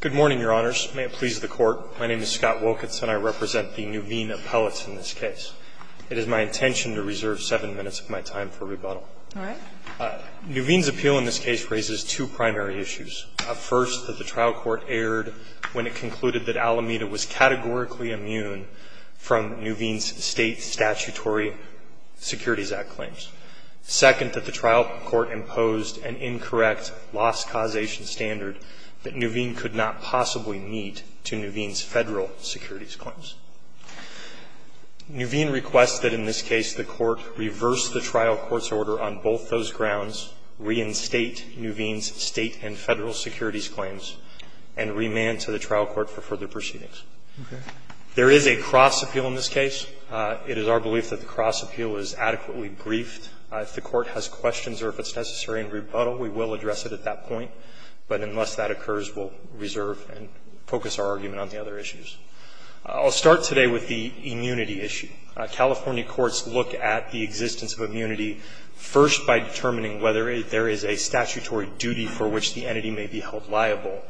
Good morning, Your Honors. May it please the Court, my name is Scott Wolkitz and I represent the Nuveen appellates in this case. It is my intention to reserve seven minutes of my time for rebuttal. All right. Nuveen's appeal in this case raises two primary issues. First, that the trial court erred when it concluded that Alameda was categorically immune from Nuveen's State Statutory Securities Act claims. Second, that the trial court imposed an incorrect loss causation standard that Nuveen could not possibly meet to Nuveen's Federal securities claims. Nuveen requests that in this case the court reverse the trial court's order on both those grounds, reinstate Nuveen's State and Federal securities claims, and remand to the trial court for further proceedings. Okay. There is a cross appeal in this case. It is our belief that the cross appeal is adequately briefed. If the court has questions or if it's necessary in rebuttal, we will address it at that point. But unless that occurs, we'll reserve and focus our argument on the other issues. I'll start today with the immunity issue. California courts look at the existence of immunity first by determining whether there is a statutory duty for which the entity may be held liable,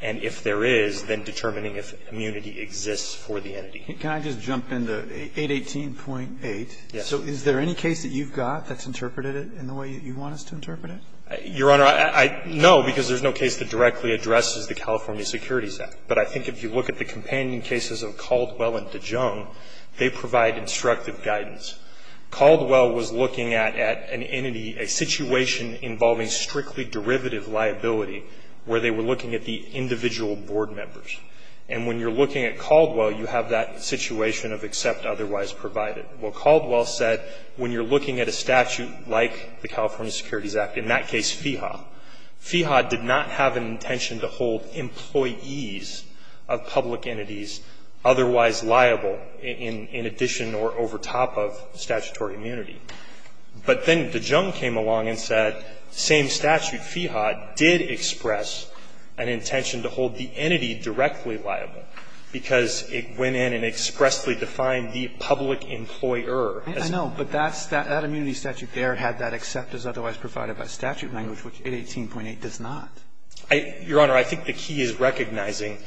and if there is, then determining if immunity exists for the entity. Can I just jump in to 818.8? Yes. So is there any case that you've got that's interpreted in the way you want us to interpret it? Your Honor, I know because there's no case that directly addresses the California Securities Act. But I think if you look at the companion cases of Caldwell and DeJonge, they provide instructive guidance. Caldwell was looking at an entity, a situation involving strictly derivative liability where they were looking at the individual board members. And when you're looking at Caldwell, you have that situation of except otherwise provided. Well, Caldwell said when you're looking at a statute like the California Securities Act, in that case FEHA, FEHA did not have an intention to hold employees of public entities otherwise liable in addition or over top of statutory immunity. But then DeJonge came along and said same statute, FEHA, did express an intention to hold the entity directly liable because it went in and expressly defined the public employer. I know. But that immunity statute there had that except as otherwise provided by statute language, which 818.8 does not. Your Honor, I think the key is recognizing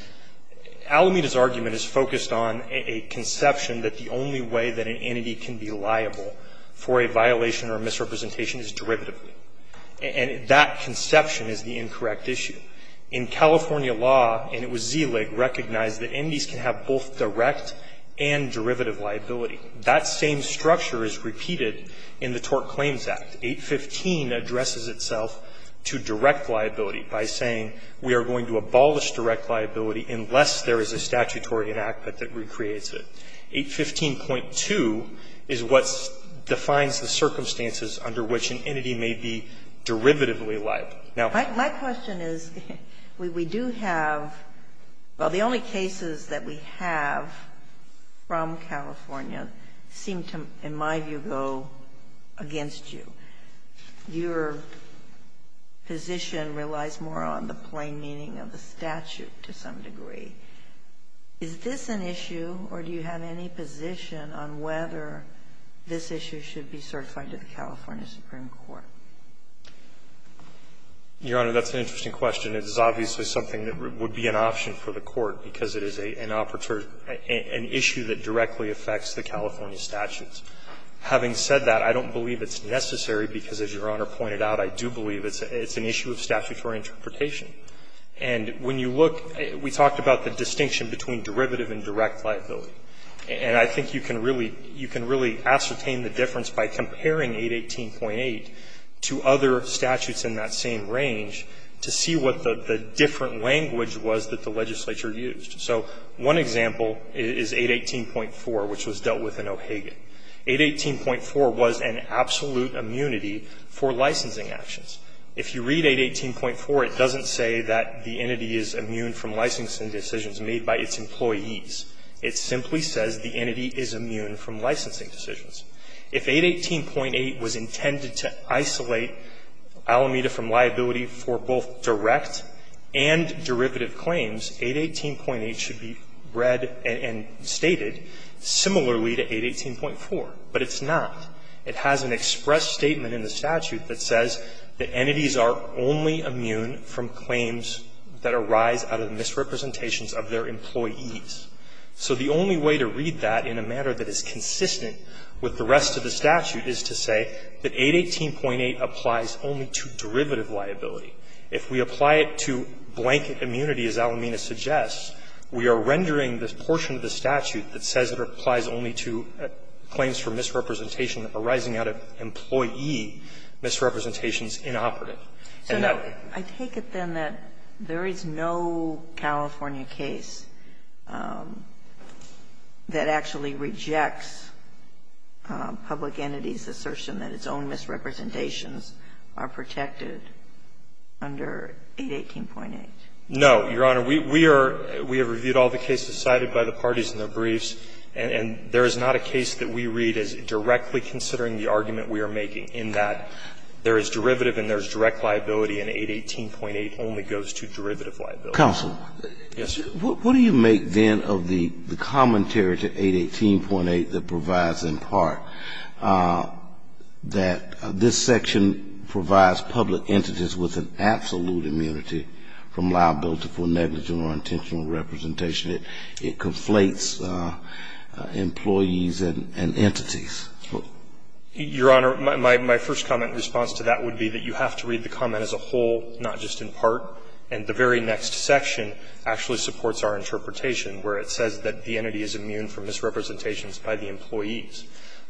Alameda's argument is focused on a conception that the only way that an entity can be liable for a violation or misrepresentation is derivatively. And that conception is the incorrect issue. In California law, and it was ZILIG, recognized that entities can have both direct and derivative liability. That same structure is repeated in the Tort Claims Act. 815 addresses itself to direct liability by saying we are going to abolish direct liability unless there is a statutory enactment that recreates it. 815.2 is what defines the circumstances under which an entity may be derivatively liable. Now my question is, we do have the only cases that we have from California seem to, in my view, go against you. Your position relies more on the plain meaning of the statute to some degree. Is this an issue, or do you have any position on whether this issue should be certified to the California Supreme Court? Your Honor, that's an interesting question. It's obviously something that would be an option for the Court, because it is an operator or an issue that directly affects the California statutes. Having said that, I don't believe it's necessary, because as Your Honor pointed out, I do believe it's an issue of statutory interpretation. And when you look, we talked about the distinction between derivative and direct liability, and I think you can really, you can really ascertain the difference by comparing 818.8 to other statutes in that same range to see what the different language was that the legislature used. So one example is 818.4, which was dealt with in O'Hagan. 818.4 was an absolute immunity for licensing actions. If you read 818.4, it doesn't say that the entity is immune from licensing decisions made by its employees. It simply says the entity is immune from licensing decisions. If 818.8 was intended to isolate Alameda from liability for both direct and derivative claims, 818.8 should be read and stated similarly to 818.4. But it's not. It has an express statement in the statute that says that entities are only immune from claims that arise out of misrepresentations of their employees. So the only way to read that in a manner that is consistent with the rest of the statute is to say that 818.8 applies only to derivative liability. If we apply it to blanket immunity, as Alameda suggests, we are rendering this portion of the statute that says it applies only to claims for misrepresentation arising out of employee misrepresentations inoperative. Sotomayor, I take it then that there is no California case that actually rejects public entities' assertion that its own misrepresentations are protected under 818.8. No, Your Honor. We are we have reviewed all the cases cited by the parties in their briefs, and there is not a case that we read as directly considering the argument we are making in that case. There is derivative and there is direct liability, and 818.8 only goes to derivative liability. Counsel. Yes, Your Honor. What do you make, then, of the commentary to 818.8 that provides in part that this section provides public entities with an absolute immunity from liability for negligent or intentional representation? It conflates employees and entities. Your Honor, my first comment in response to that would be that you have to read the comment as a whole, not just in part. And the very next section actually supports our interpretation, where it says that the entity is immune from misrepresentations by the employees.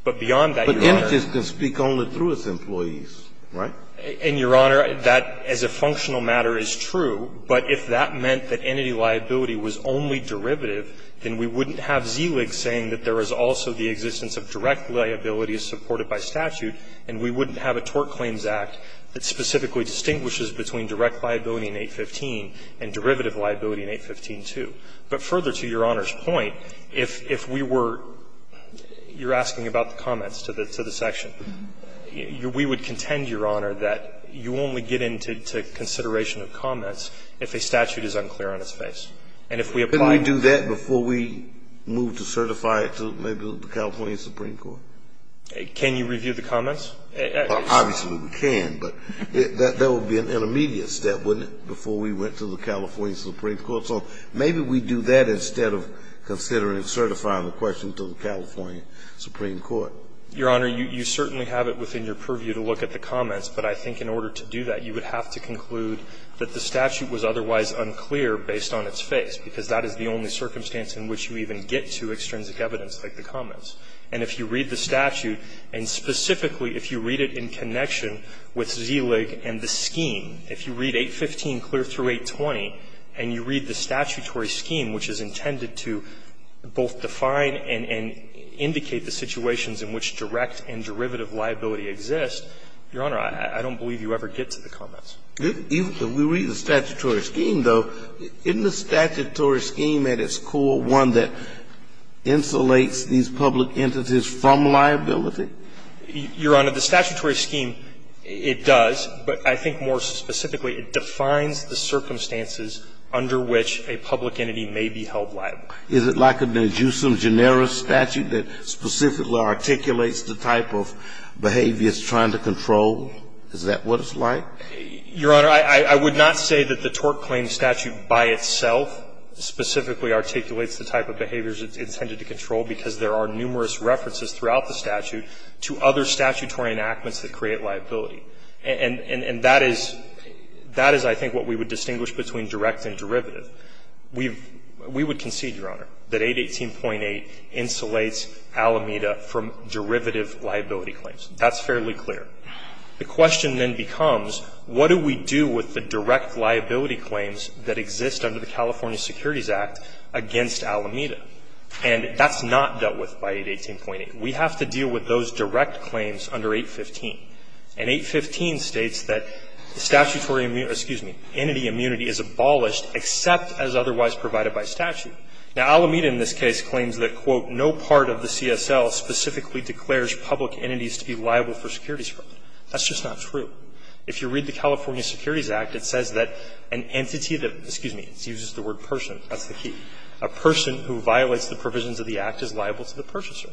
But beyond that, Your Honor But entities can speak only through its employees, right? And, Your Honor, that as a functional matter is true, but if that meant that entity liability was only derivative, then we wouldn't have ZLIG saying that there is also the existence of direct liability as supported by statute, and we wouldn't have a Tort Claims Act that specifically distinguishes between direct liability in 815 and derivative liability in 815 too. But further to Your Honor's point, if we were you're asking about the comments to the section, we would contend, Your Honor, that you only get into consideration of comments if a statute is unclear on its face. And if we apply to that before we move to certify it, to maybe look at the comments to the California Supreme Court? Can you review the comments? Obviously, we can, but that would be an intermediate step, wouldn't it, before we went to the California Supreme Court? So maybe we do that instead of considering certifying the question to the California Supreme Court. Your Honor, you certainly have it within your purview to look at the comments, but I think in order to do that, you would have to conclude that the statute was otherwise unclear based on its face, because that is the only circumstance in which you even get to extrinsic evidence like the comments. And if you read the statute, and specifically if you read it in connection with ZLIG and the scheme, if you read 815 clear through 820 and you read the statutory scheme, which is intended to both define and indicate the situations in which direct and derivative liability exist, Your Honor, I don't believe you ever get to the comments. If we read the statutory scheme, though, isn't the statutory scheme at its core one that insulates these public entities from liability? Your Honor, the statutory scheme, it does, but I think more specifically, it defines the circumstances under which a public entity may be held liable. Is it like an ad jusem generis statute that specifically articulates the type of behavior it's trying to control? Is that what it's like? Your Honor, I would not say that the TORC claim statute by itself specifically articulates the type of behaviors it's intended to control, because there are numerous references throughout the statute to other statutory enactments that create liability. And that is, I think, what we would distinguish between direct and derivative. We would concede, Your Honor, that 818.8 insulates Alameda from derivative liability claims. That's fairly clear. The question then becomes, what do we do with the direct liability claims that exist under the California Securities Act against Alameda? And that's not dealt with by 818.8. We have to deal with those direct claims under 815. And 815 states that the statutory immunity, excuse me, entity immunity is abolished except as otherwise provided by statute. Now, Alameda in this case claims that, quote, no part of the CSL specifically declares public entities to be liable for securities fraud. That's just not true. If you read the California Securities Act, it says that an entity that, excuse me, it uses the word person. That's the key. A person who violates the provisions of the act is liable to the purchaser.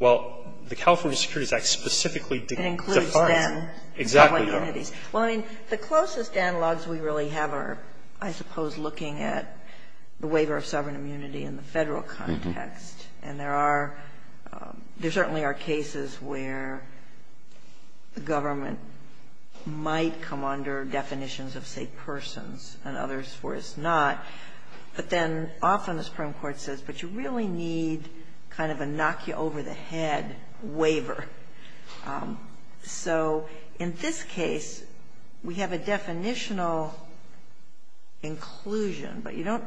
Well, the California Securities Act specifically defines. Exactly, Your Honor. Well, I mean, the closest analogs we really have are, I suppose, looking at the waiver of sovereign immunity in the Federal context. And there are – there certainly are cases where the government might come under definitions of, say, persons and others where it's not. But then often the Supreme Court says, but you really need kind of a knock-you-over-the-head waiver. So in this case, we have a definitional inclusion, but you don't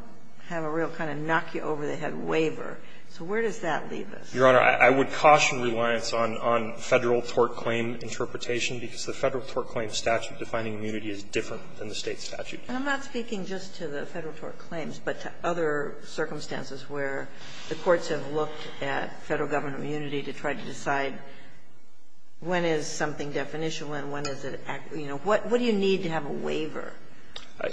have a real kind of knock-you-over-the-head waiver. So where does that leave us? Your Honor, I would caution reliance on Federal tort claim interpretation, because the Federal tort claim statute defining immunity is different than the State statute. And I'm not speaking just to the Federal tort claims, but to other circumstances where the courts have looked at Federal government immunity to try to decide when is something definitional and when is it – you know, what do you need to have a waiver?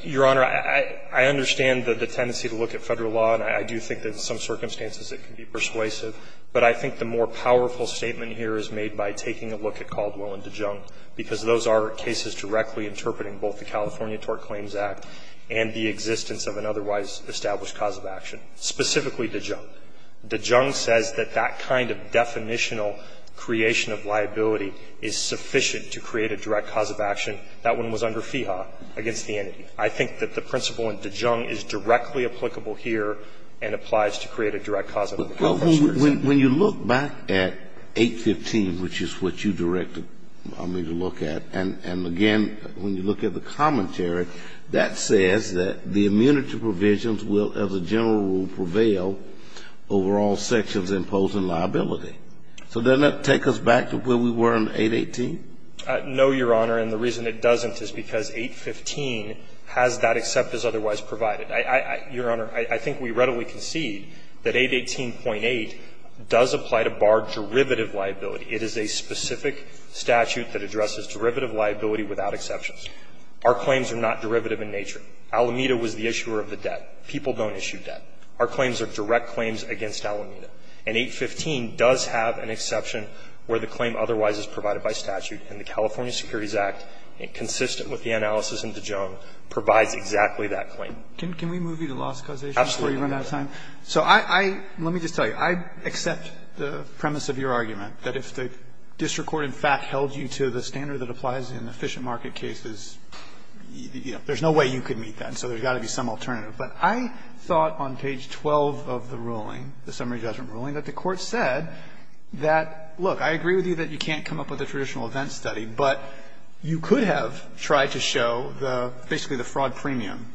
Your Honor, I understand the tendency to look at Federal law, and I do think that in some circumstances it can be persuasive, but I think the more powerful statement here is made by taking a look at Caldwell and DeJonge, because those are cases directly interpreting both the California Tort Claims Act and the existence of an otherwise established cause of action, specifically DeJonge. DeJonge says that that kind of definitional creation of liability is sufficient to create a direct cause of action. That one was under FEHA against the entity. I think that the principle in DeJonge is directly applicable here and applies to create a direct cause of action. But when you look back at 815, which is what you directed me to look at, and again, when you look at the commentary, that says that the immunity provisions will, as a general rule, prevail over all sections imposing liability. So doesn't that take us back to where we were in 818? No, Your Honor, and the reason it doesn't is because 815 has that except as otherwise provided. Your Honor, I think we readily concede that 818.8 does apply to bar derivative liability. It is a specific statute that addresses derivative liability without exceptions. Our claims are not derivative in nature. Alameda was the issuer of the debt. People don't issue debt. Our claims are direct claims against Alameda. And 815 does have an exception where the claim otherwise is provided by statute. And the California Securities Act, consistent with the analysis in DeJonge, provides exactly that claim. Can we move you to loss causation before you run out of time? Absolutely. So I – let me just tell you. I accept the premise of your argument that if the district court in fact held you to the standard that applies in efficient market cases, there's no way you could meet that. So there's got to be some alternative. But I thought on page 12 of the ruling, the summary judgment ruling, that the court said that, look, I agree with you that you can't come up with a traditional event study, but you could have tried to show the – basically the fraud premium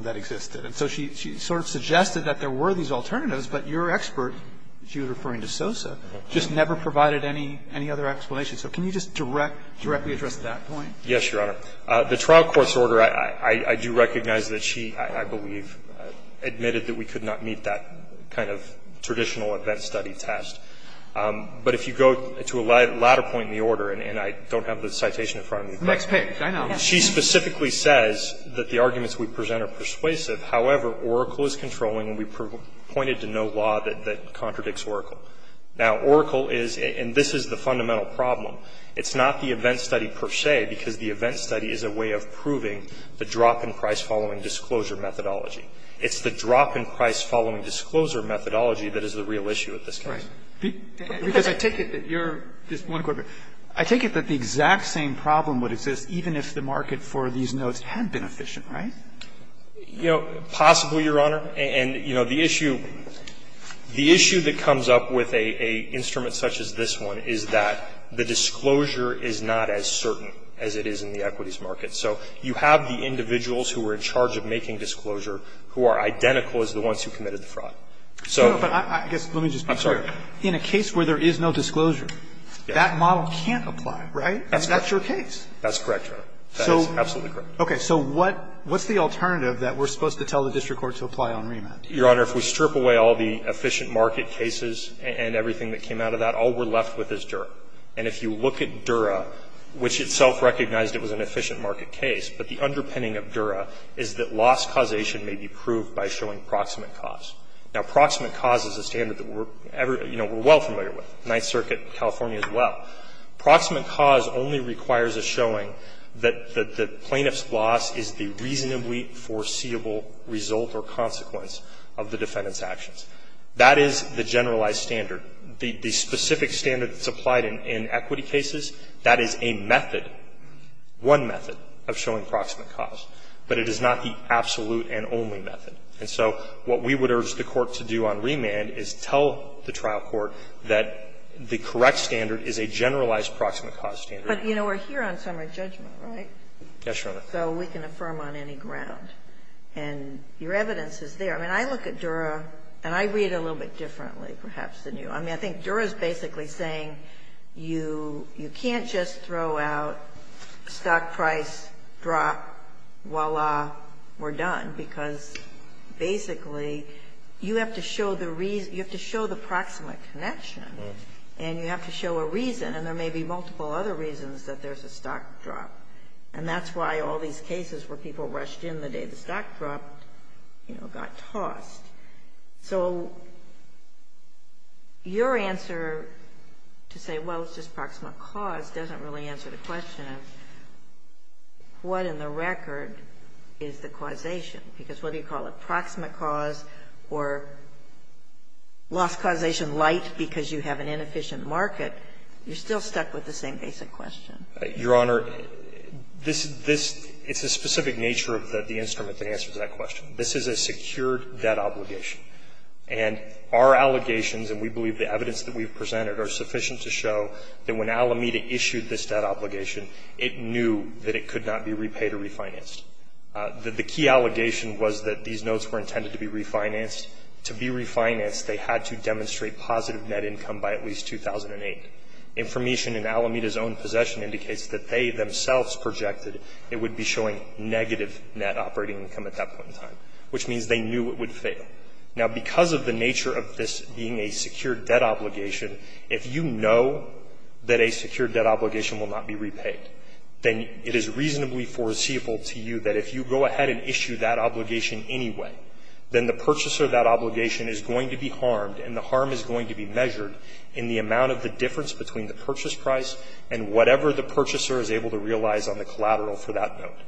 that existed. And so she sort of suggested that there were these alternatives, but your expert – she was referring to Sosa – just never provided any other explanation. So can you just directly address that point? Yes, Your Honor. The trial court's order, I do recognize that she, I believe, admitted that we could not meet that kind of traditional event study test. But if you go to a latter point in the order, and I don't have the citation in front of me, but she specifically says that the arguments we present are persuasive. However, Oracle is controlling and we pointed to no law that contradicts Oracle. Now, Oracle is – and this is the fundamental problem. It's not the event study per se, because the event study is a way of proving the drop in price following disclosure methodology. It's the drop in price following disclosure methodology that is the real issue with this case. Right. Because I take it that you're – just one quick question. I take it that the exact same problem would exist even if the market for these notes had been efficient, right? You know, possibly, Your Honor. And, you know, the issue – the issue that comes up with an instrument such as this one is that the disclosure is not as certain as it is in the equities market. So you have the individuals who are in charge of making disclosure who are identical as the ones who committed the fraud. So – No, but I guess – let me just be clear. I'm sorry. In a case where there is no disclosure, that model can't apply, right? That's correct. And that's your case. That's correct, Your Honor. That is absolutely correct. Okay. So what – what's the alternative that we're supposed to tell the district court to apply on remand? Your Honor, if we strip away all the efficient market cases and everything that came out of that, all we're left with is Dura. And if you look at Dura, which itself recognized it was an efficient market case, but the underpinning of Dura is that loss causation may be proved by showing proximate cause. Now, proximate cause is a standard that we're – you know, we're well familiar with, Ninth Circuit, California as well. Proximate cause only requires a showing that the plaintiff's loss is the reasonably foreseeable result or consequence of the defendant's actions. That is the generalized standard. The specific standard that's applied in equity cases, that is a method, one method, of showing proximate cause. But it is not the absolute and only method. And so what we would urge the court to do on remand is tell the trial court that the correct standard is a generalized proximate cause standard. But, you know, we're here on summary judgment, right? Yes, Your Honor. So we can affirm on any ground. And your evidence is there. I mean, I look at Dura, and I read it a little bit differently, perhaps, than you. I mean, I think Dura is basically saying you can't just throw out stock price, drop, voila, we're done, because, basically, you have to show the reason – you have to show the proximate connection, and you have to show a reason. And there may be multiple other reasons that there's a stock drop. And that's why all these cases where people rushed in the day the stock dropped, you know, got tossed. So your answer to say, well, it's just proximate cause, doesn't really answer the question of what in the record is the causation, because whether you call it proximate cause or lost causation light because you have an inefficient market, you're still stuck with the same basic question. Your Honor, this – it's the specific nature of the instrument that answers that question. This is a secured debt obligation. And our allegations, and we believe the evidence that we've presented, are sufficient to show that when Alameda issued this debt obligation, it knew that it could not be repaid or refinanced. The key allegation was that these notes were intended to be refinanced. To be refinanced, they had to demonstrate positive net income by at least 2008. Information in Alameda's own possession indicates that they themselves projected it at that point in time, which means they knew it would fail. Now, because of the nature of this being a secured debt obligation, if you know that a secured debt obligation will not be repaid, then it is reasonably foreseeable to you that if you go ahead and issue that obligation anyway, then the purchaser of that obligation is going to be harmed, and the harm is going to be measured in the amount of the difference between the purchase price and whatever the purchaser is able to realize on the collateral for that note.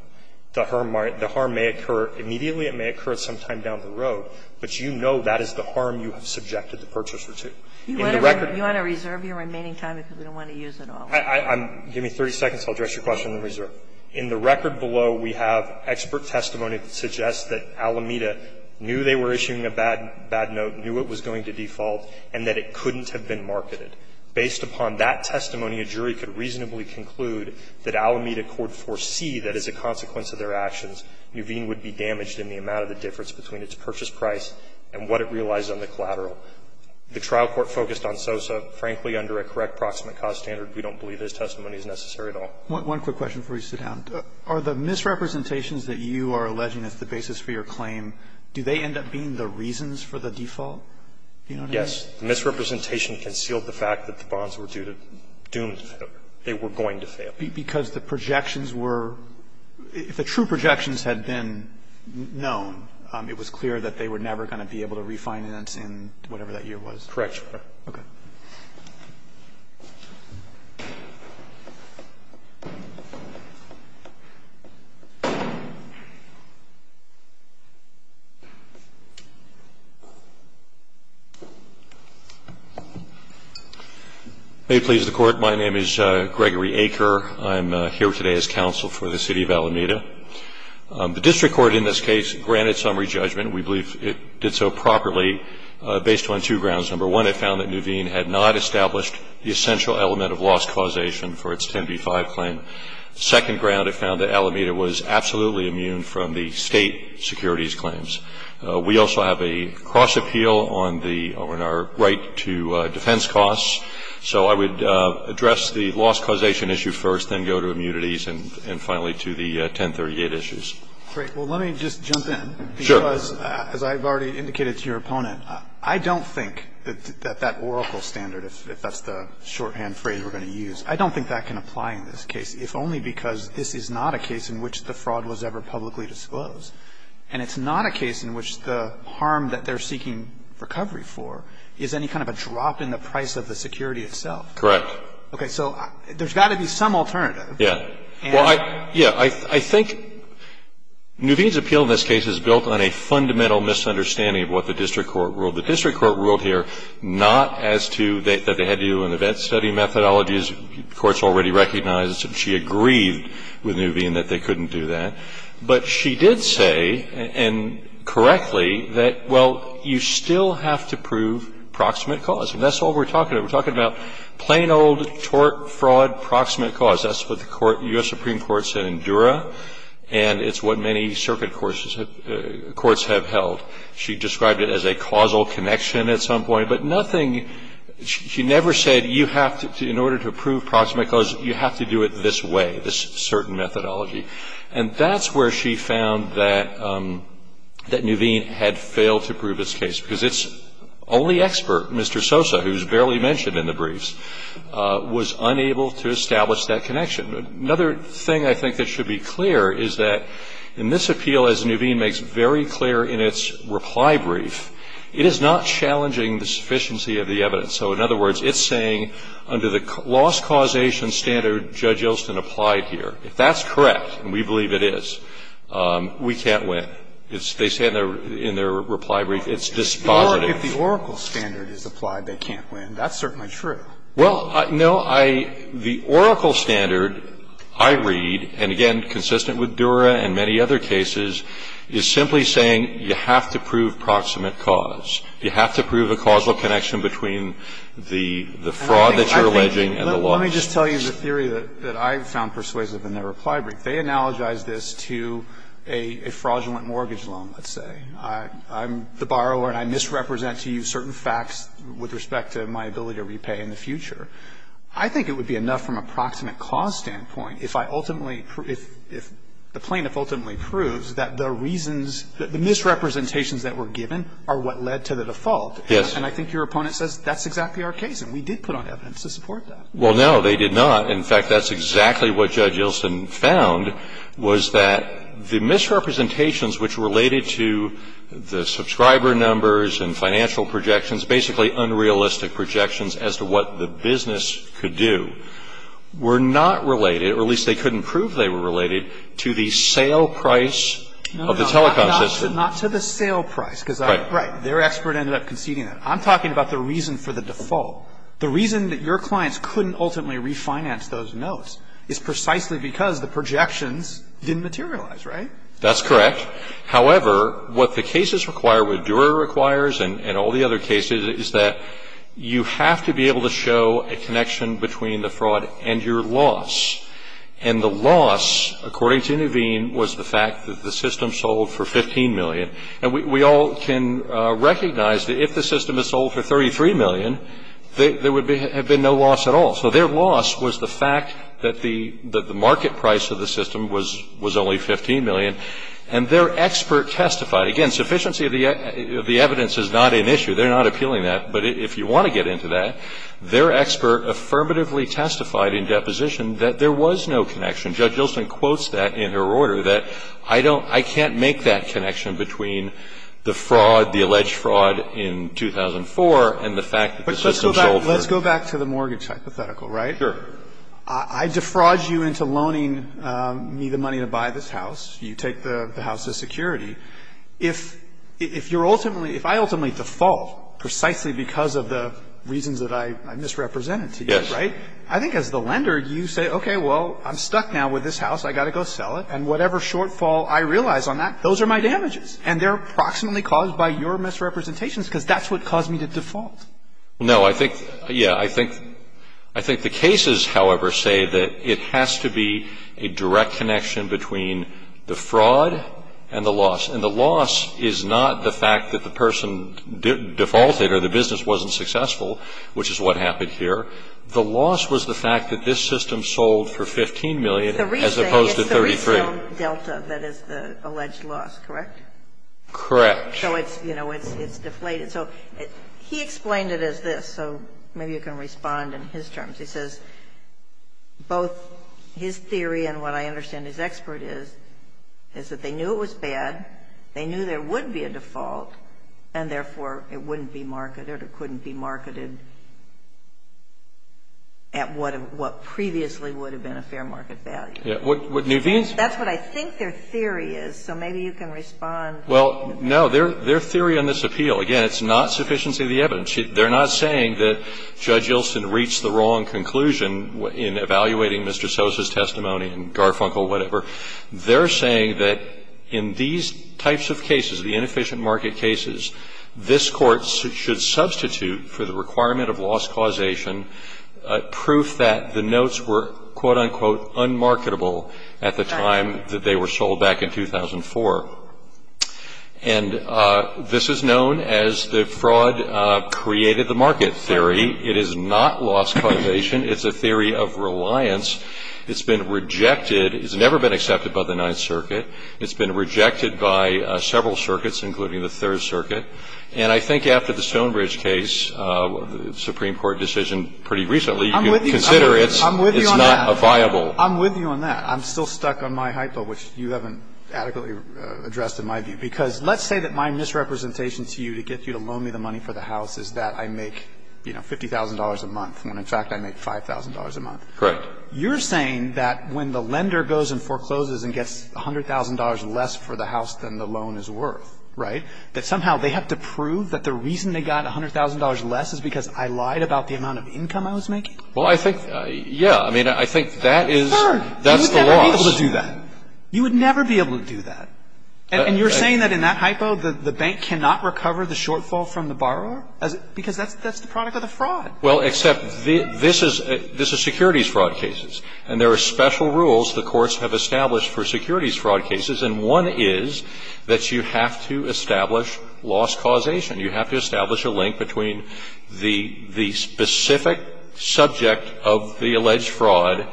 The harm may occur immediately. It may occur sometime down the road. But you know that is the harm you have subjected the purchaser to. In the record we have expert testimony that suggests that Alameda knew they were issuing a bad note, knew it was going to default, and that it couldn't have been marketed. Based upon that testimony, a jury could reasonably conclude that Alameda could foresee the consequence of their actions, Nuveen would be damaged in the amount of the difference between its purchase price and what it realized on the collateral. The trial court focused on Sosa. Frankly, under a correct proximate cause standard, we don't believe his testimony is necessary at all. Roberts. One quick question before we sit down. Are the misrepresentations that you are alleging as the basis for your claim, do they end up being the reasons for the default? Do you know what I mean? Yes. The misrepresentation concealed the fact that the bonds were due to doom, they were going to fail. Because the projections were – if the true projections had been known, it was clear that they were never going to be able to refinance in whatever that year was. Correct. Okay. May it please the Court. My name is Gregory Aker. I'm here today as counsel for the City of Alameda. The district court in this case granted summary judgment. We believe it did so properly based on two grounds. Number one, it found that Nuveen had not established the essential element of loss causation for its 10B-5 claim. The second ground, it found that Alameda was absolutely immune from the state securities claims. We also have a cross appeal on the – on our right to defense costs. So I would address the loss causation issue first, then go to immunities, and finally to the 1038 issues. Great. Well, let me just jump in. Sure. Because as I've already indicated to your opponent, I don't think that that oracle standard, if that's the shorthand phrase we're going to use, I don't think that can apply in this case, if only because this is not a case in which the fraud was ever publicly disclosed, and it's not a case in which the harm that they're seeking recovery for is any kind of a drop in the price of the security itself. Correct. Okay. So there's got to be some alternative. Yeah. Well, I – yeah. I think Nuveen's appeal in this case is built on a fundamental misunderstanding of what the district court ruled. The district court ruled here not as to that they had to do an event study methodology, as the Court's already recognized. She agreed with Nuveen that they couldn't do that. But she did say, and correctly, that, well, you still have to prove proximate cause, and that's all we're talking about. We're talking about plain old tort, fraud, proximate cause. That's what the court – U.S. Supreme Court said in Dura, and it's what many circuit courts have held. She described it as a causal connection at some point, but nothing – she never said you have to – in order to prove proximate cause, you have to do it this way, this certain methodology. And that's where she found that Nuveen had failed to prove this case, because its only expert, Mr. Sosa, who's barely mentioned in the briefs, was unable to establish that connection. Another thing I think that should be clear is that in this appeal, as Nuveen makes very clear in its reply brief, it is not challenging the sufficiency of the evidence. So, in other words, it's saying, under the loss causation standard Judge Gilson applied here, if that's correct, and we believe it is, we can't win. They say in their reply brief, it's dispositive. If the Oracle standard is applied, they can't win. That's certainly true. Well, no. The Oracle standard, I read, and again, consistent with Dura and many other cases, is simply saying you have to prove proximate cause. You have to prove a causal connection between the fraud that you're alleging and the loss. Let me just tell you the theory that I found persuasive in their reply brief. They analogize this to a fraudulent mortgage loan, let's say. I'm the borrower and I misrepresent to you certain facts with respect to my ability to repay in the future. I think it would be enough from a proximate cause standpoint if I ultimately – if the plaintiff ultimately proves that the reasons, the misrepresentations that were given are what led to the default. Yes. And I think your opponent says that's exactly our case, and we did put on evidence to support that. Well, no, they did not. In fact, that's exactly what Judge Ilson found was that the misrepresentations which related to the subscriber numbers and financial projections, basically unrealistic projections as to what the business could do, were not related, or at least they couldn't prove they were related, to the sale price of the telecom system. No, not to the sale price. Right. Right. Their expert ended up conceding that. I'm talking about the reason for the default. The reason that your clients couldn't ultimately refinance those notes is precisely because the projections didn't materialize. Right? That's correct. However, what the cases require, what Dura requires and all the other cases, is that you have to be able to show a connection between the fraud and your loss. And the loss, according to Nuveen, was the fact that the system sold for $15 million. And we all can recognize that if the system had sold for $33 million, there would have been no loss at all. So their loss was the fact that the market price of the system was only $15 million. And their expert testified. Again, sufficiency of the evidence is not an issue. They're not appealing that. But if you want to get into that, their expert affirmatively testified in deposition that there was no connection. Judge Ilsen quotes that in her order, that I don't, I can't make that connection between the fraud, the alleged fraud in 2004 and the fact that the system sold for $15 million. Let's go back to the mortgage hypothetical, right? Sure. I defraud you into loaning me the money to buy this house. You take the house as security. If you're ultimately, if I ultimately default precisely because of the reasons that I misrepresented to you, right? Yes. I think as the lender, you say, okay, well, I'm stuck now with this house. I've got to go sell it. And whatever shortfall I realize on that, those are my damages. And they're approximately caused by your misrepresentations because that's what caused me to default. No, I think, yeah, I think, I think the cases, however, say that it has to be a direct connection between the fraud and the loss. And the loss is not the fact that the person defaulted or the business wasn't successful, which is what happened here. The loss was the fact that this system sold for $15 million as opposed to $33. It's the retail delta that is the alleged loss, correct? Correct. So it's, you know, it's deflated. So he explained it as this. So maybe you can respond in his terms. He says both his theory and what I understand his expert is, is that they knew it was bad, they knew there would be a default, and therefore it wouldn't be marketed or couldn't be marketed at what previously would have been a fair market value. Yeah. What Nuveen's ---- That's what I think their theory is. So maybe you can respond. Well, no. Their theory on this appeal, again, it's not sufficiency of the evidence. They're not saying that Judge Ilsen reached the wrong conclusion in evaluating Mr. Sosa's testimony in Garfunkel, whatever. They're saying that in these types of cases, the inefficient market cases, this Court should substitute for the requirement of loss causation proof that the notes were, quote, unquote, unmarketable at the time that they were sold back in 2004. And this is known as the fraud created the market theory. It is not loss causation. It's a theory of reliance. It's been rejected. It's never been accepted by the Ninth Circuit. It's been rejected by several circuits, including the Third Circuit. And I think after the Stonebridge case, Supreme Court decision pretty recently, you can consider it's not a viable ---- I'm with you on that. I'm still stuck on my hypo, which you haven't adequately addressed in my view. Because let's say that my misrepresentation to you to get you to loan me the money for the house is that I make, you know, $50,000 a month, when in fact I make $5,000 a month. Correct. You're saying that when the lender goes and forecloses and gets $100,000 less for the house than the loan is worth, right, that somehow they have to prove that the reason they got $100,000 less is because I lied about the amount of income I was making? Well, I think, yeah. I mean, I think that is the loss. You would never be able to do that. You would never be able to do that. And you're saying that in that hypo the bank cannot recover the shortfall from the borrower? Because that's the product of the fraud. Well, except this is securities fraud cases. And there are special rules the courts have established for securities fraud cases. And one is that you have to establish loss causation. You have to establish a link between the specific subject of the alleged fraud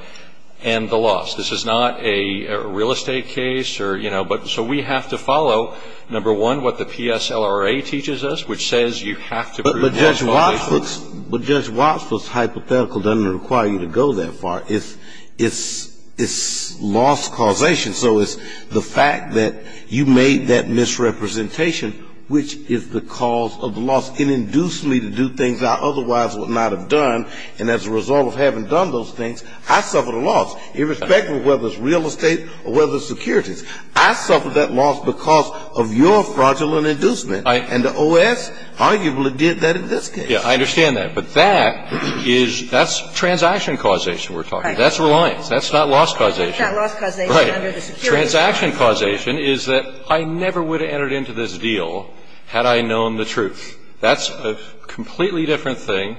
and the loss. This is not a real estate case or, you know, but so we have to follow, number one, what the PSLRA teaches us, which says you have to prove loss causation. But Judge Wattsford's hypothetical doesn't require you to go that far. It's loss causation. So it's the fact that you made that misrepresentation, which is the cause of the loss. It induced me to do things I otherwise would not have done. And as a result of having done those things, I suffered a loss, irrespective of whether it's real estate or whether it's securities. I suffered that loss because of your fraudulent inducement. And the OS arguably did that in this case. Yeah, I understand that. But that is that's transaction causation we're talking about. That's reliance. That's not loss causation. Right. Transaction causation is that I never would have entered into this deal had I known the truth. That's a completely different thing.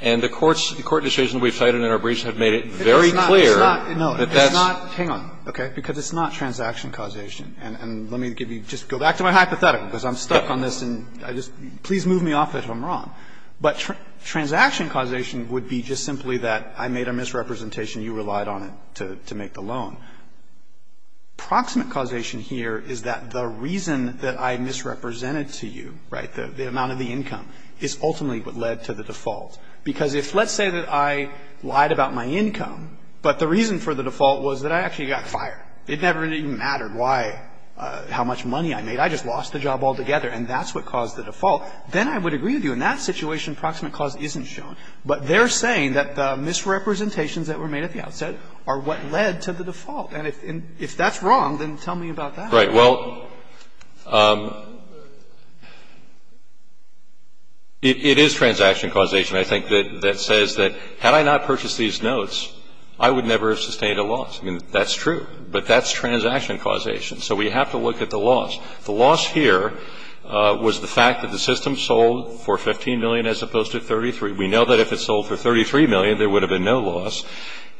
And the court's – the court decision we've cited in our briefs have made it very clear that that's – It's not – no, it's not. Hang on. Okay. Because it's not transaction causation. And let me give you – just go back to my hypothetical, because I'm stuck on this and I just – please move me off it if I'm wrong. But transaction causation would be just simply that I made a misrepresentation. And you relied on it to make the loan. Proximate causation here is that the reason that I misrepresented to you, right, the amount of the income, is ultimately what led to the default. Because if let's say that I lied about my income, but the reason for the default was that I actually got fired. It never even mattered why – how much money I made. I just lost the job altogether. And that's what caused the default. Then I would agree with you. In that situation, proximate cause isn't shown. But they're saying that the misrepresentations that were made at the outset are what led to the default. And if that's wrong, then tell me about that. Right. Well, it is transaction causation, I think, that says that had I not purchased these notes, I would never have sustained a loss. I mean, that's true. But that's transaction causation. So we have to look at the loss. The loss here was the fact that the system sold for $15 million as opposed to $33. We know that if it sold for $33 million, there would have been no loss.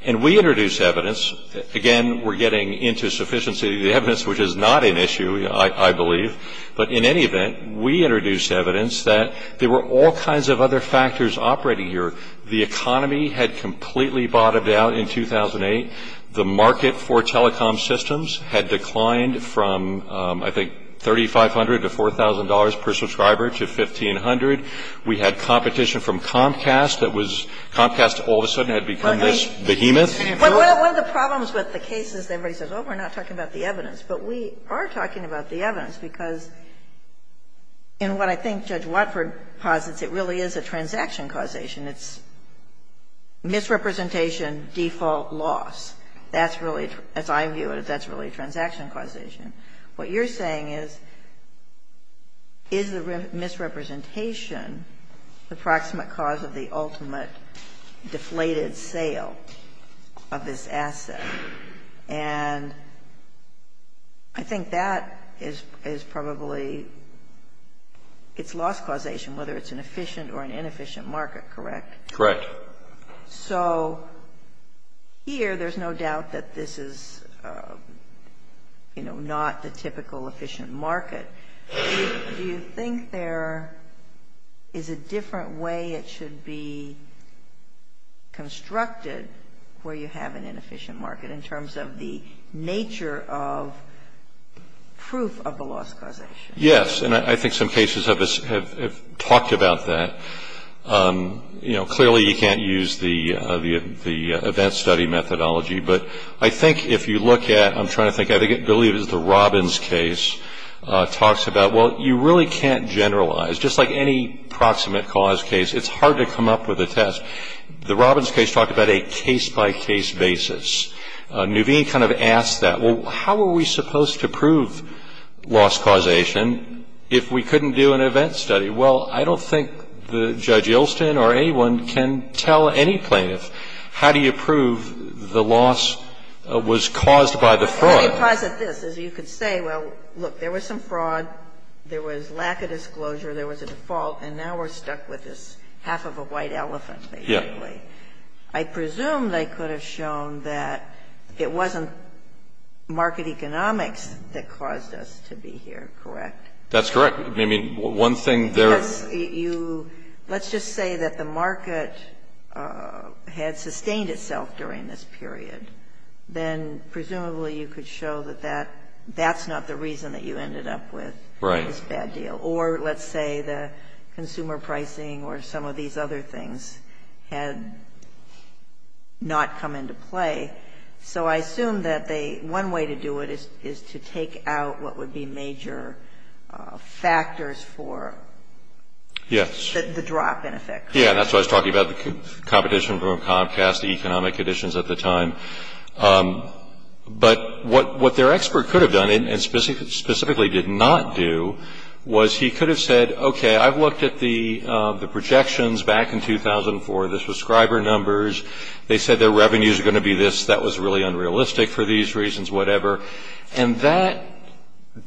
And we introduced evidence. Again, we're getting into sufficiency of the evidence, which is not an issue, I believe. But in any event, we introduced evidence that there were all kinds of other factors operating here. The economy had completely bottomed out in 2008. The market for telecom systems had declined from, I think, $3,500 to $4,000 per subscriber to $1,500. We had competition from Comcast that was – Comcast all of a sudden had become this behemoth. One of the problems with the case is everybody says, oh, we're not talking about the evidence. But we are talking about the evidence, because in what I think Judge Watford posits, it really is a transaction causation. It's misrepresentation, default, loss. That's really – as I view it, that's really transaction causation. What you're saying is, is the misrepresentation the proximate cause of the ultimate deflated sale of this asset? And I think that is probably its loss causation, whether it's an efficient or an inefficient market, correct? Correct. So here there's no doubt that this is, you know, not the typical efficient market. Do you think there is a different way it should be constructed where you have an inefficient market in terms of the nature of proof of the loss causation? Yes, and I think some cases have talked about that. You know, clearly you can't use the event study methodology. But I think if you look at – I'm trying to think – I believe it's the Robbins case talks about, well, you really can't generalize. Just like any proximate cause case, it's hard to come up with a test. The Robbins case talked about a case-by-case basis. Nuveen kind of asked that. Well, how are we supposed to prove loss causation if we couldn't do an event study? Well, I don't think Judge Yeltsin or anyone can tell any plaintiff, how do you prove the loss was caused by the fraud? Well, let me posit this. As you could say, well, look, there was some fraud. There was lack of disclosure. There was a default. And now we're stuck with this half of a white elephant basically. I presume they could have shown that it wasn't market economics that caused us to be here, correct? That's correct. Let's just say that the market had sustained itself during this period. Then presumably you could show that that's not the reason that you ended up with this bad deal. Or let's say the consumer pricing or some of these other things had not come into play. So I assume that one way to do it is to take out what would be major factors for the drop, in effect. Yes. Yes. That's what I was talking about, the competition from Comcast, the economic conditions at the time. But what their expert could have done and specifically did not do was he could have said, okay, I've looked at the projections back in 2004, the subscriber numbers. They said their revenues are going to be this. That was really unrealistic for these reasons, whatever. And that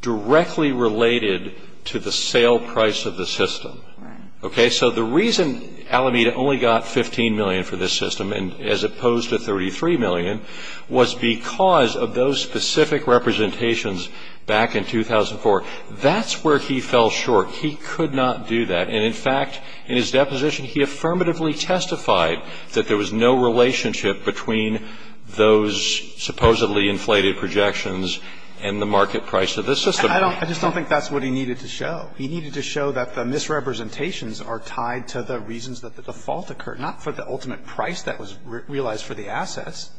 directly related to the sale price of the system. Right. Okay? So the reason Alameda only got $15 million for this system as opposed to $33 million was because of those specific representations back in 2004. That's where he fell short. He could not do that. And, in fact, in his deposition, he affirmatively testified that there was no relationship between those supposedly inflated projections and the market price of this system. I just don't think that's what he needed to show. He needed to show that the misrepresentations are tied to the reasons that the default occurred, not for the ultimate price that was realized for the assets.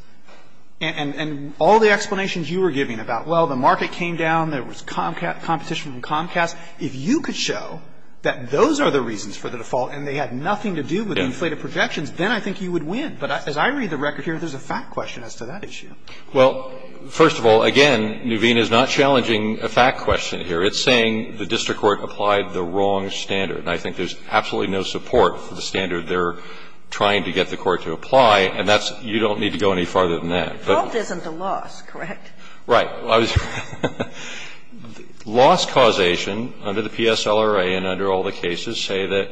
And all the explanations you were giving about, well, the market came down. There was competition from Comcast. If you could show that those are the reasons for the default and they had nothing to do with the inflated projections, then I think you would win. But as I read the record here, there's a fact question as to that issue. Well, first of all, again, Nuveen is not challenging a fact question here. It's saying the district court applied the wrong standard. And I think there's absolutely no support for the standard they're trying to get the court to apply, and that's you don't need to go any farther than that. The fault isn't the loss, correct? Right. Loss causation under the PSLRA and under all the cases say that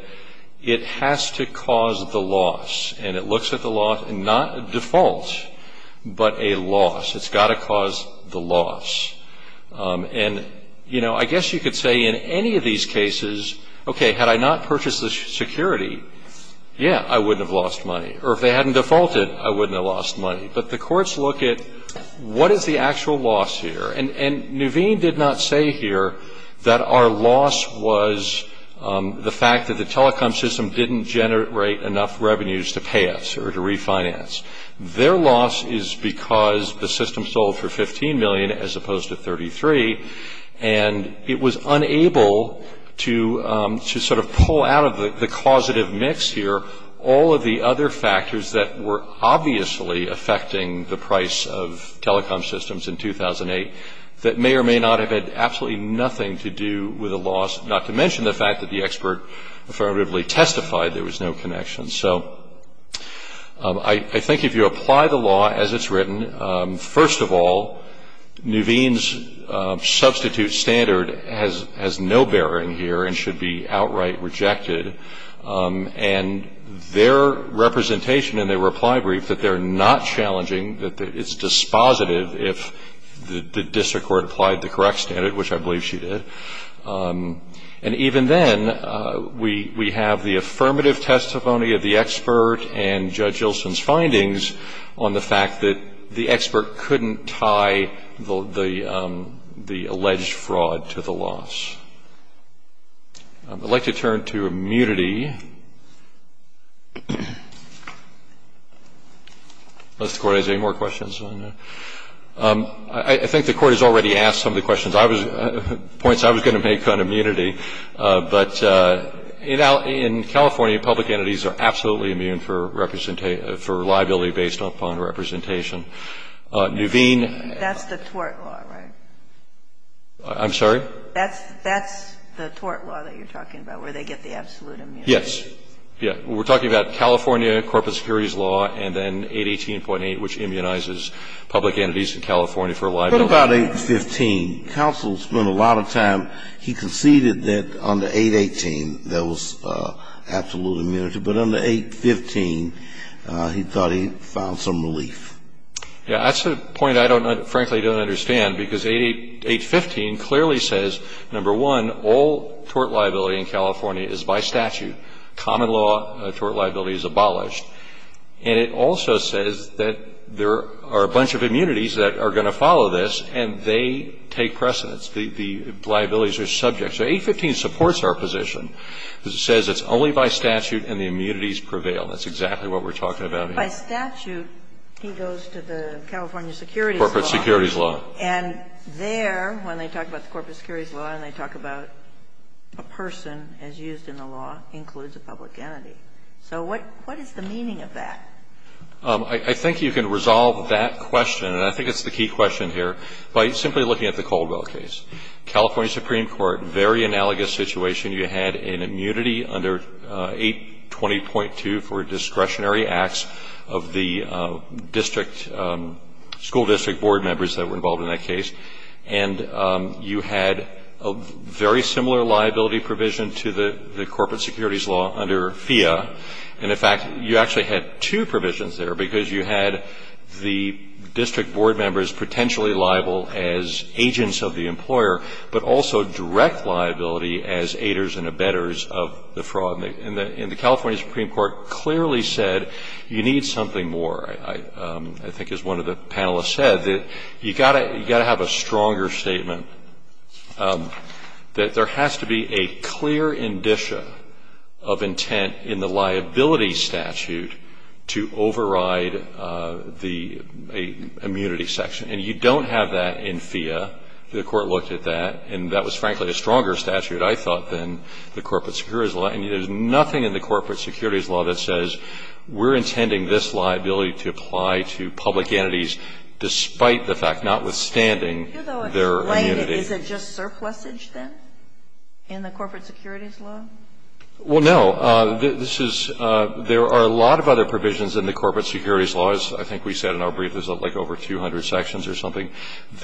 it has to cause the loss. And it looks at the loss, not default, but a loss. It's got to cause the loss. And, you know, I guess you could say in any of these cases, okay, had I not purchased the security, yeah, I wouldn't have lost money. Or if they hadn't defaulted, I wouldn't have lost money. But the courts look at what is the actual loss here. And Nuveen did not say here that our loss was the fact that the telecom system didn't generate enough revenues to pay us or to refinance. Their loss is because the system sold for $15 million as opposed to $33, and it was unable to sort of pull out of the causative mix here all of the other factors that were obviously affecting the price of telecom systems in 2008 that may or may not have had absolutely nothing to do with the loss, not to mention the fact that the expert affirmatively testified there was no connection. So I think if you apply the law as it's written, first of all, Nuveen's substitute standard has no bearing here and should be outright rejected. And their representation in their reply brief that they're not challenging, that it's dispositive if the district court applied the correct standard, which I believe she did. And even then, we have the affirmative testimony of the expert and Judge Ilson's findings on the fact that the expert couldn't tie the alleged fraud to the loss. I'd like to turn to immunity. Unless the Court has any more questions on that. I think the Court has already asked some of the questions, points I was going to make on immunity. But in California, public entities are absolutely immune for liability based upon representation. Nuveen. That's the tort law, right? I'm sorry? That's the tort law that you're talking about, where they get the absolute immunity. Yes. Yeah. We're talking about California corporate securities law and then 818.8, which immunizes public entities in California for liability. But about 815, counsel spent a lot of time. He conceded that under 818, there was absolute immunity. But under 815, he thought he found some relief. Yeah. That's a point I frankly don't understand, because 815 clearly says, number one, all tort liability in California is by statute. Common law tort liability is abolished. And it also says that there are a bunch of immunities that are going to follow this, and they take precedence. The liabilities are subject. So 815 supports our position. It says it's only by statute and the immunities prevail. That's exactly what we're talking about here. But by statute, he goes to the California securities law. Corporate securities law. And there, when they talk about the corporate securities law and they talk about a person as used in the law, includes a public entity. So what is the meaning of that? I think you can resolve that question, and I think it's the key question here, by simply looking at the Caldwell case. California Supreme Court, very analogous situation. You had an immunity under 820.2 for discretionary acts of the district, school district board members that were involved in that case. And you had a very similar liability provision to the corporate securities law under FEA. And, in fact, you actually had two provisions there, because you had the district board members potentially liable as agents of the employer, but also direct liability as aiders and abettors of the fraud. And the California Supreme Court clearly said you need something more, I think as one of the panelists said, that you've got to have a stronger statement that there has to be a clear indicia of intent in the liability statute to override the immunity section. And you don't have that in FEA. The Court looked at that, and that was, frankly, a stronger statute, I thought, than the corporate securities law. And there's nothing in the corporate securities law that says we're intending this liability to apply to public entities, despite the fact, notwithstanding their immunity. Is it just surplusage, then, in the corporate securities law? Well, no. This is – there are a lot of other provisions in the corporate securities law, as I think we said in our brief, there's like over 200 sections or something,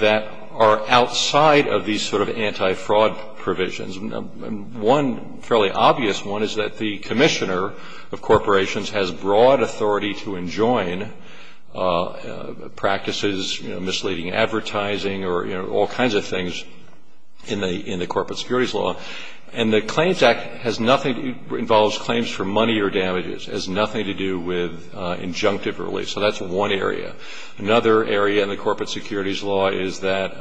that are outside of these sort of anti-fraud provisions. One fairly obvious one is that the commissioner of corporations has broad authority to enjoin practices, you know, misleading advertising or, you know, all kinds of things in the corporate securities law. And the Claims Act has nothing – involves claims for money or damages, has nothing to do with injunctive relief. So that's one area. Another area in the corporate securities law is that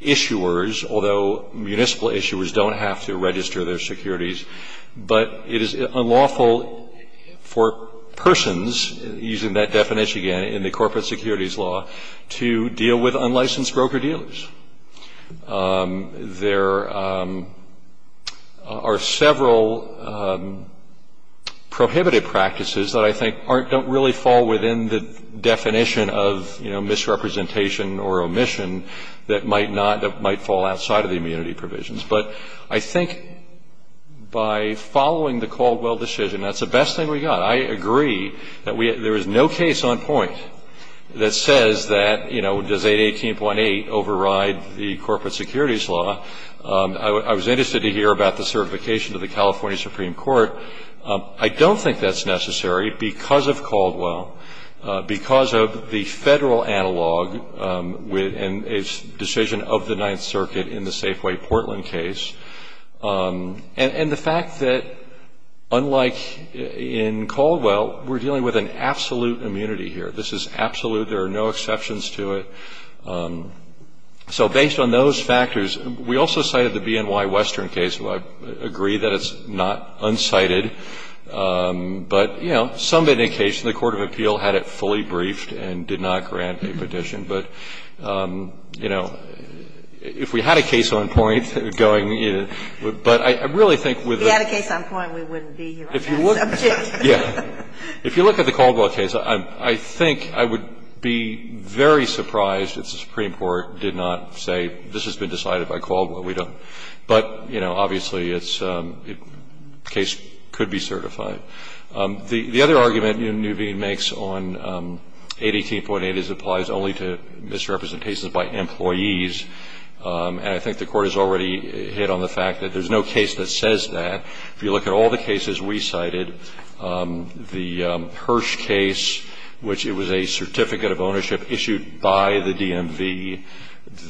issuers, although municipal issuers don't have to register their securities, but it is unlawful for persons, using that definition again, in the corporate securities law, to deal with unlicensed broker-dealers. There are several prohibitive practices that I think aren't – the definition of, you know, misrepresentation or omission that might not – that might fall outside of the immunity provisions. But I think by following the Caldwell decision, that's the best thing we got. I agree that we – there is no case on point that says that, you know, does 818.8 override the corporate securities law. I was interested to hear about the certification to the California Supreme Court. I don't think that's necessary because of Caldwell, because of the federal analog and its decision of the Ninth Circuit in the Safeway Portland case, and the fact that unlike in Caldwell, we're dealing with an absolute immunity here. This is absolute. There are no exceptions to it. So based on those factors, we also cited the BNY Western case, so I agree that it's not unsighted. But, you know, some indication the court of appeal had it fully briefed and did not grant a petition. But, you know, if we had a case on point going – but I really think with the – If we had a case on point, we wouldn't be here on that subject. Yeah. If you look at the Caldwell case, I think I would be very surprised if the Supreme Court did not say this has been decided by Caldwell. We don't. But, you know, obviously it's – case could be certified. The other argument Nuveen makes on 818.8 is it applies only to misrepresentations by employees, and I think the Court has already hit on the fact that there's no case that says that. If you look at all the cases we cited, the Hirsch case, which it was a certificate of ownership issued by the DMV,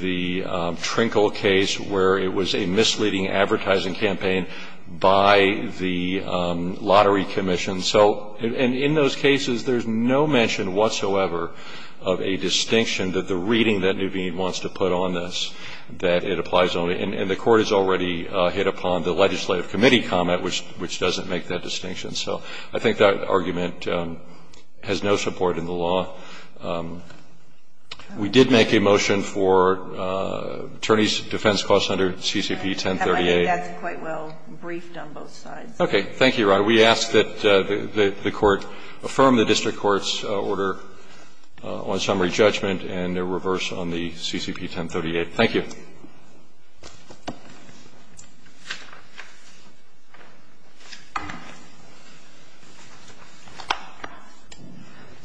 the Trinkle case where it was a misleading advertising campaign by the Lottery Commission. So – and in those cases, there's no mention whatsoever of a distinction that the reading that Nuveen wants to put on this, that it applies only – and the Court has already hit upon the legislative committee comment, which doesn't make that distinction. So I think that argument has no support in the law. We did make a motion for attorneys' defense clause under CCP 1038. And I think that's quite well briefed on both sides. Okay. Thank you, Your Honor. We ask that the Court affirm the district court's order on summary judgment and a reverse on the CCP 1038. Thank you.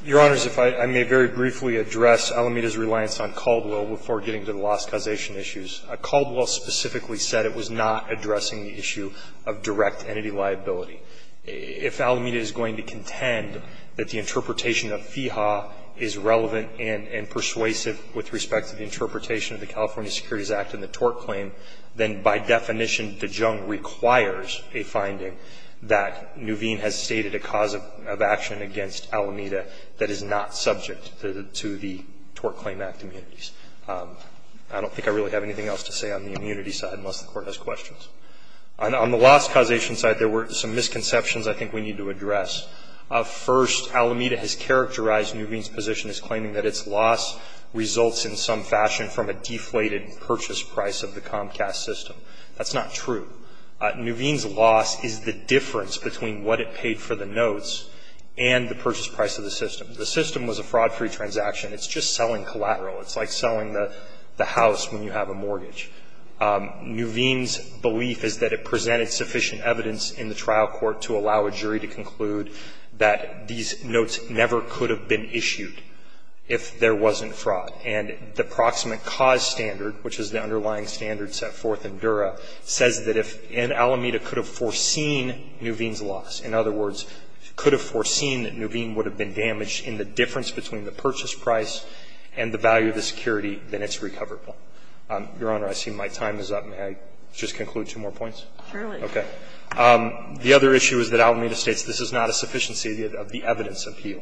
Your Honors, if I may very briefly address Alameda's reliance on Caldwell before getting to the loss causation issues. Caldwell specifically said it was not addressing the issue of direct entity liability. If Alameda is going to contend that the interpretation of FIHA is relevant and persuasive with respect to the interpretation of the California Security Services Act and the TORC claim, then by definition, Dijon requires a finding that Nuveen has stated a cause of action against Alameda that is not subject to the TORC Claim Act immunities. I don't think I really have anything else to say on the immunity side, unless the Court has questions. On the loss causation side, there were some misconceptions I think we need to address. First, Alameda has characterized Nuveen's position as claiming that its loss results in some fashion from a deflated purchase price of the Comcast system. That's not true. Nuveen's loss is the difference between what it paid for the notes and the purchase price of the system. The system was a fraud-free transaction. It's just selling collateral. It's like selling the house when you have a mortgage. Nuveen's belief is that it presented sufficient evidence in the trial court to allow a jury to conclude that these notes never could have been issued if there wasn't fraud. And the proximate cause standard, which is the underlying standard set forth in Dura, says that if Alameda could have foreseen Nuveen's loss, in other words, could have foreseen that Nuveen would have been damaged in the difference between the purchase price and the value of the security, then it's recoverable. Your Honor, I see my time is up. May I just conclude two more points? Sotomayor, Okay. The other issue is that Alameda states this is not a sufficiency of the evidence appeal.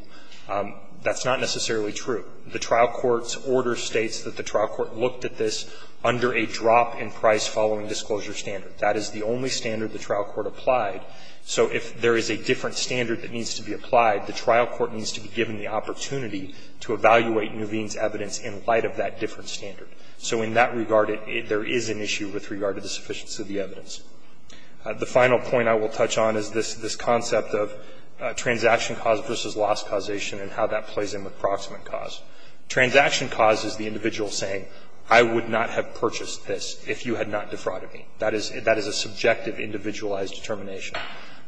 That's not necessarily true. The trial court's order states that the trial court looked at this under a drop in price following disclosure standard. That is the only standard the trial court applied. So if there is a different standard that needs to be applied, the trial court needs to be given the opportunity to evaluate Nuveen's evidence in light of that different standard. So in that regard, there is an issue with regard to the sufficiency of the evidence. The final point I will touch on is this concept of transaction cause versus loss causation and how that plays in with proximate cause. Transaction cause is the individual saying, I would not have purchased this if you had not defrauded me. That is a subjective, individualized determination.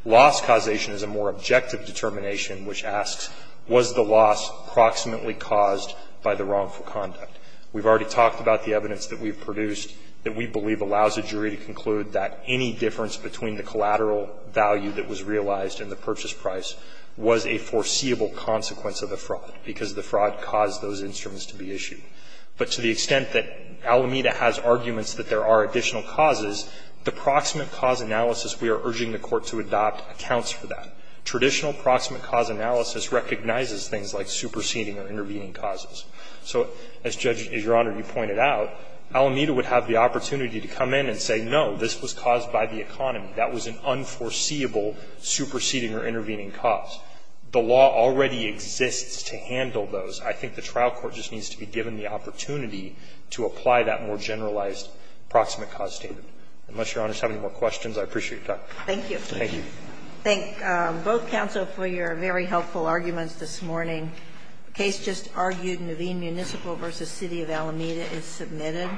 Loss causation is a more objective determination, which asks, was the loss proximately caused by the wrongful conduct? We've already talked about the evidence that we've produced that we believe allows a jury to conclude that any difference between the collateral value that was realized and the purchase price was a foreseeable consequence of the fraud, because the fraud caused those instruments to be issued. But to the extent that Alameda has arguments that there are additional causes, the proximate cause analysis we are urging the court to adopt accounts for that. Traditional proximate cause analysis recognizes things like superseding or intervening causes. So as Judge, Your Honor, you pointed out, Alameda would have the opportunity to come in and say, no, this was caused by the economy. That was an unforeseeable superseding or intervening cause. The law already exists to handle those. I think the trial court just needs to be given the opportunity to apply that more generalized proximate cause statement. Unless Your Honor has any more questions, I appreciate your time. Thank you. Thank you. Thank both counsel for your very helpful arguments this morning. The case just argued, Naveen Municipal v. City of Alameda is submitted.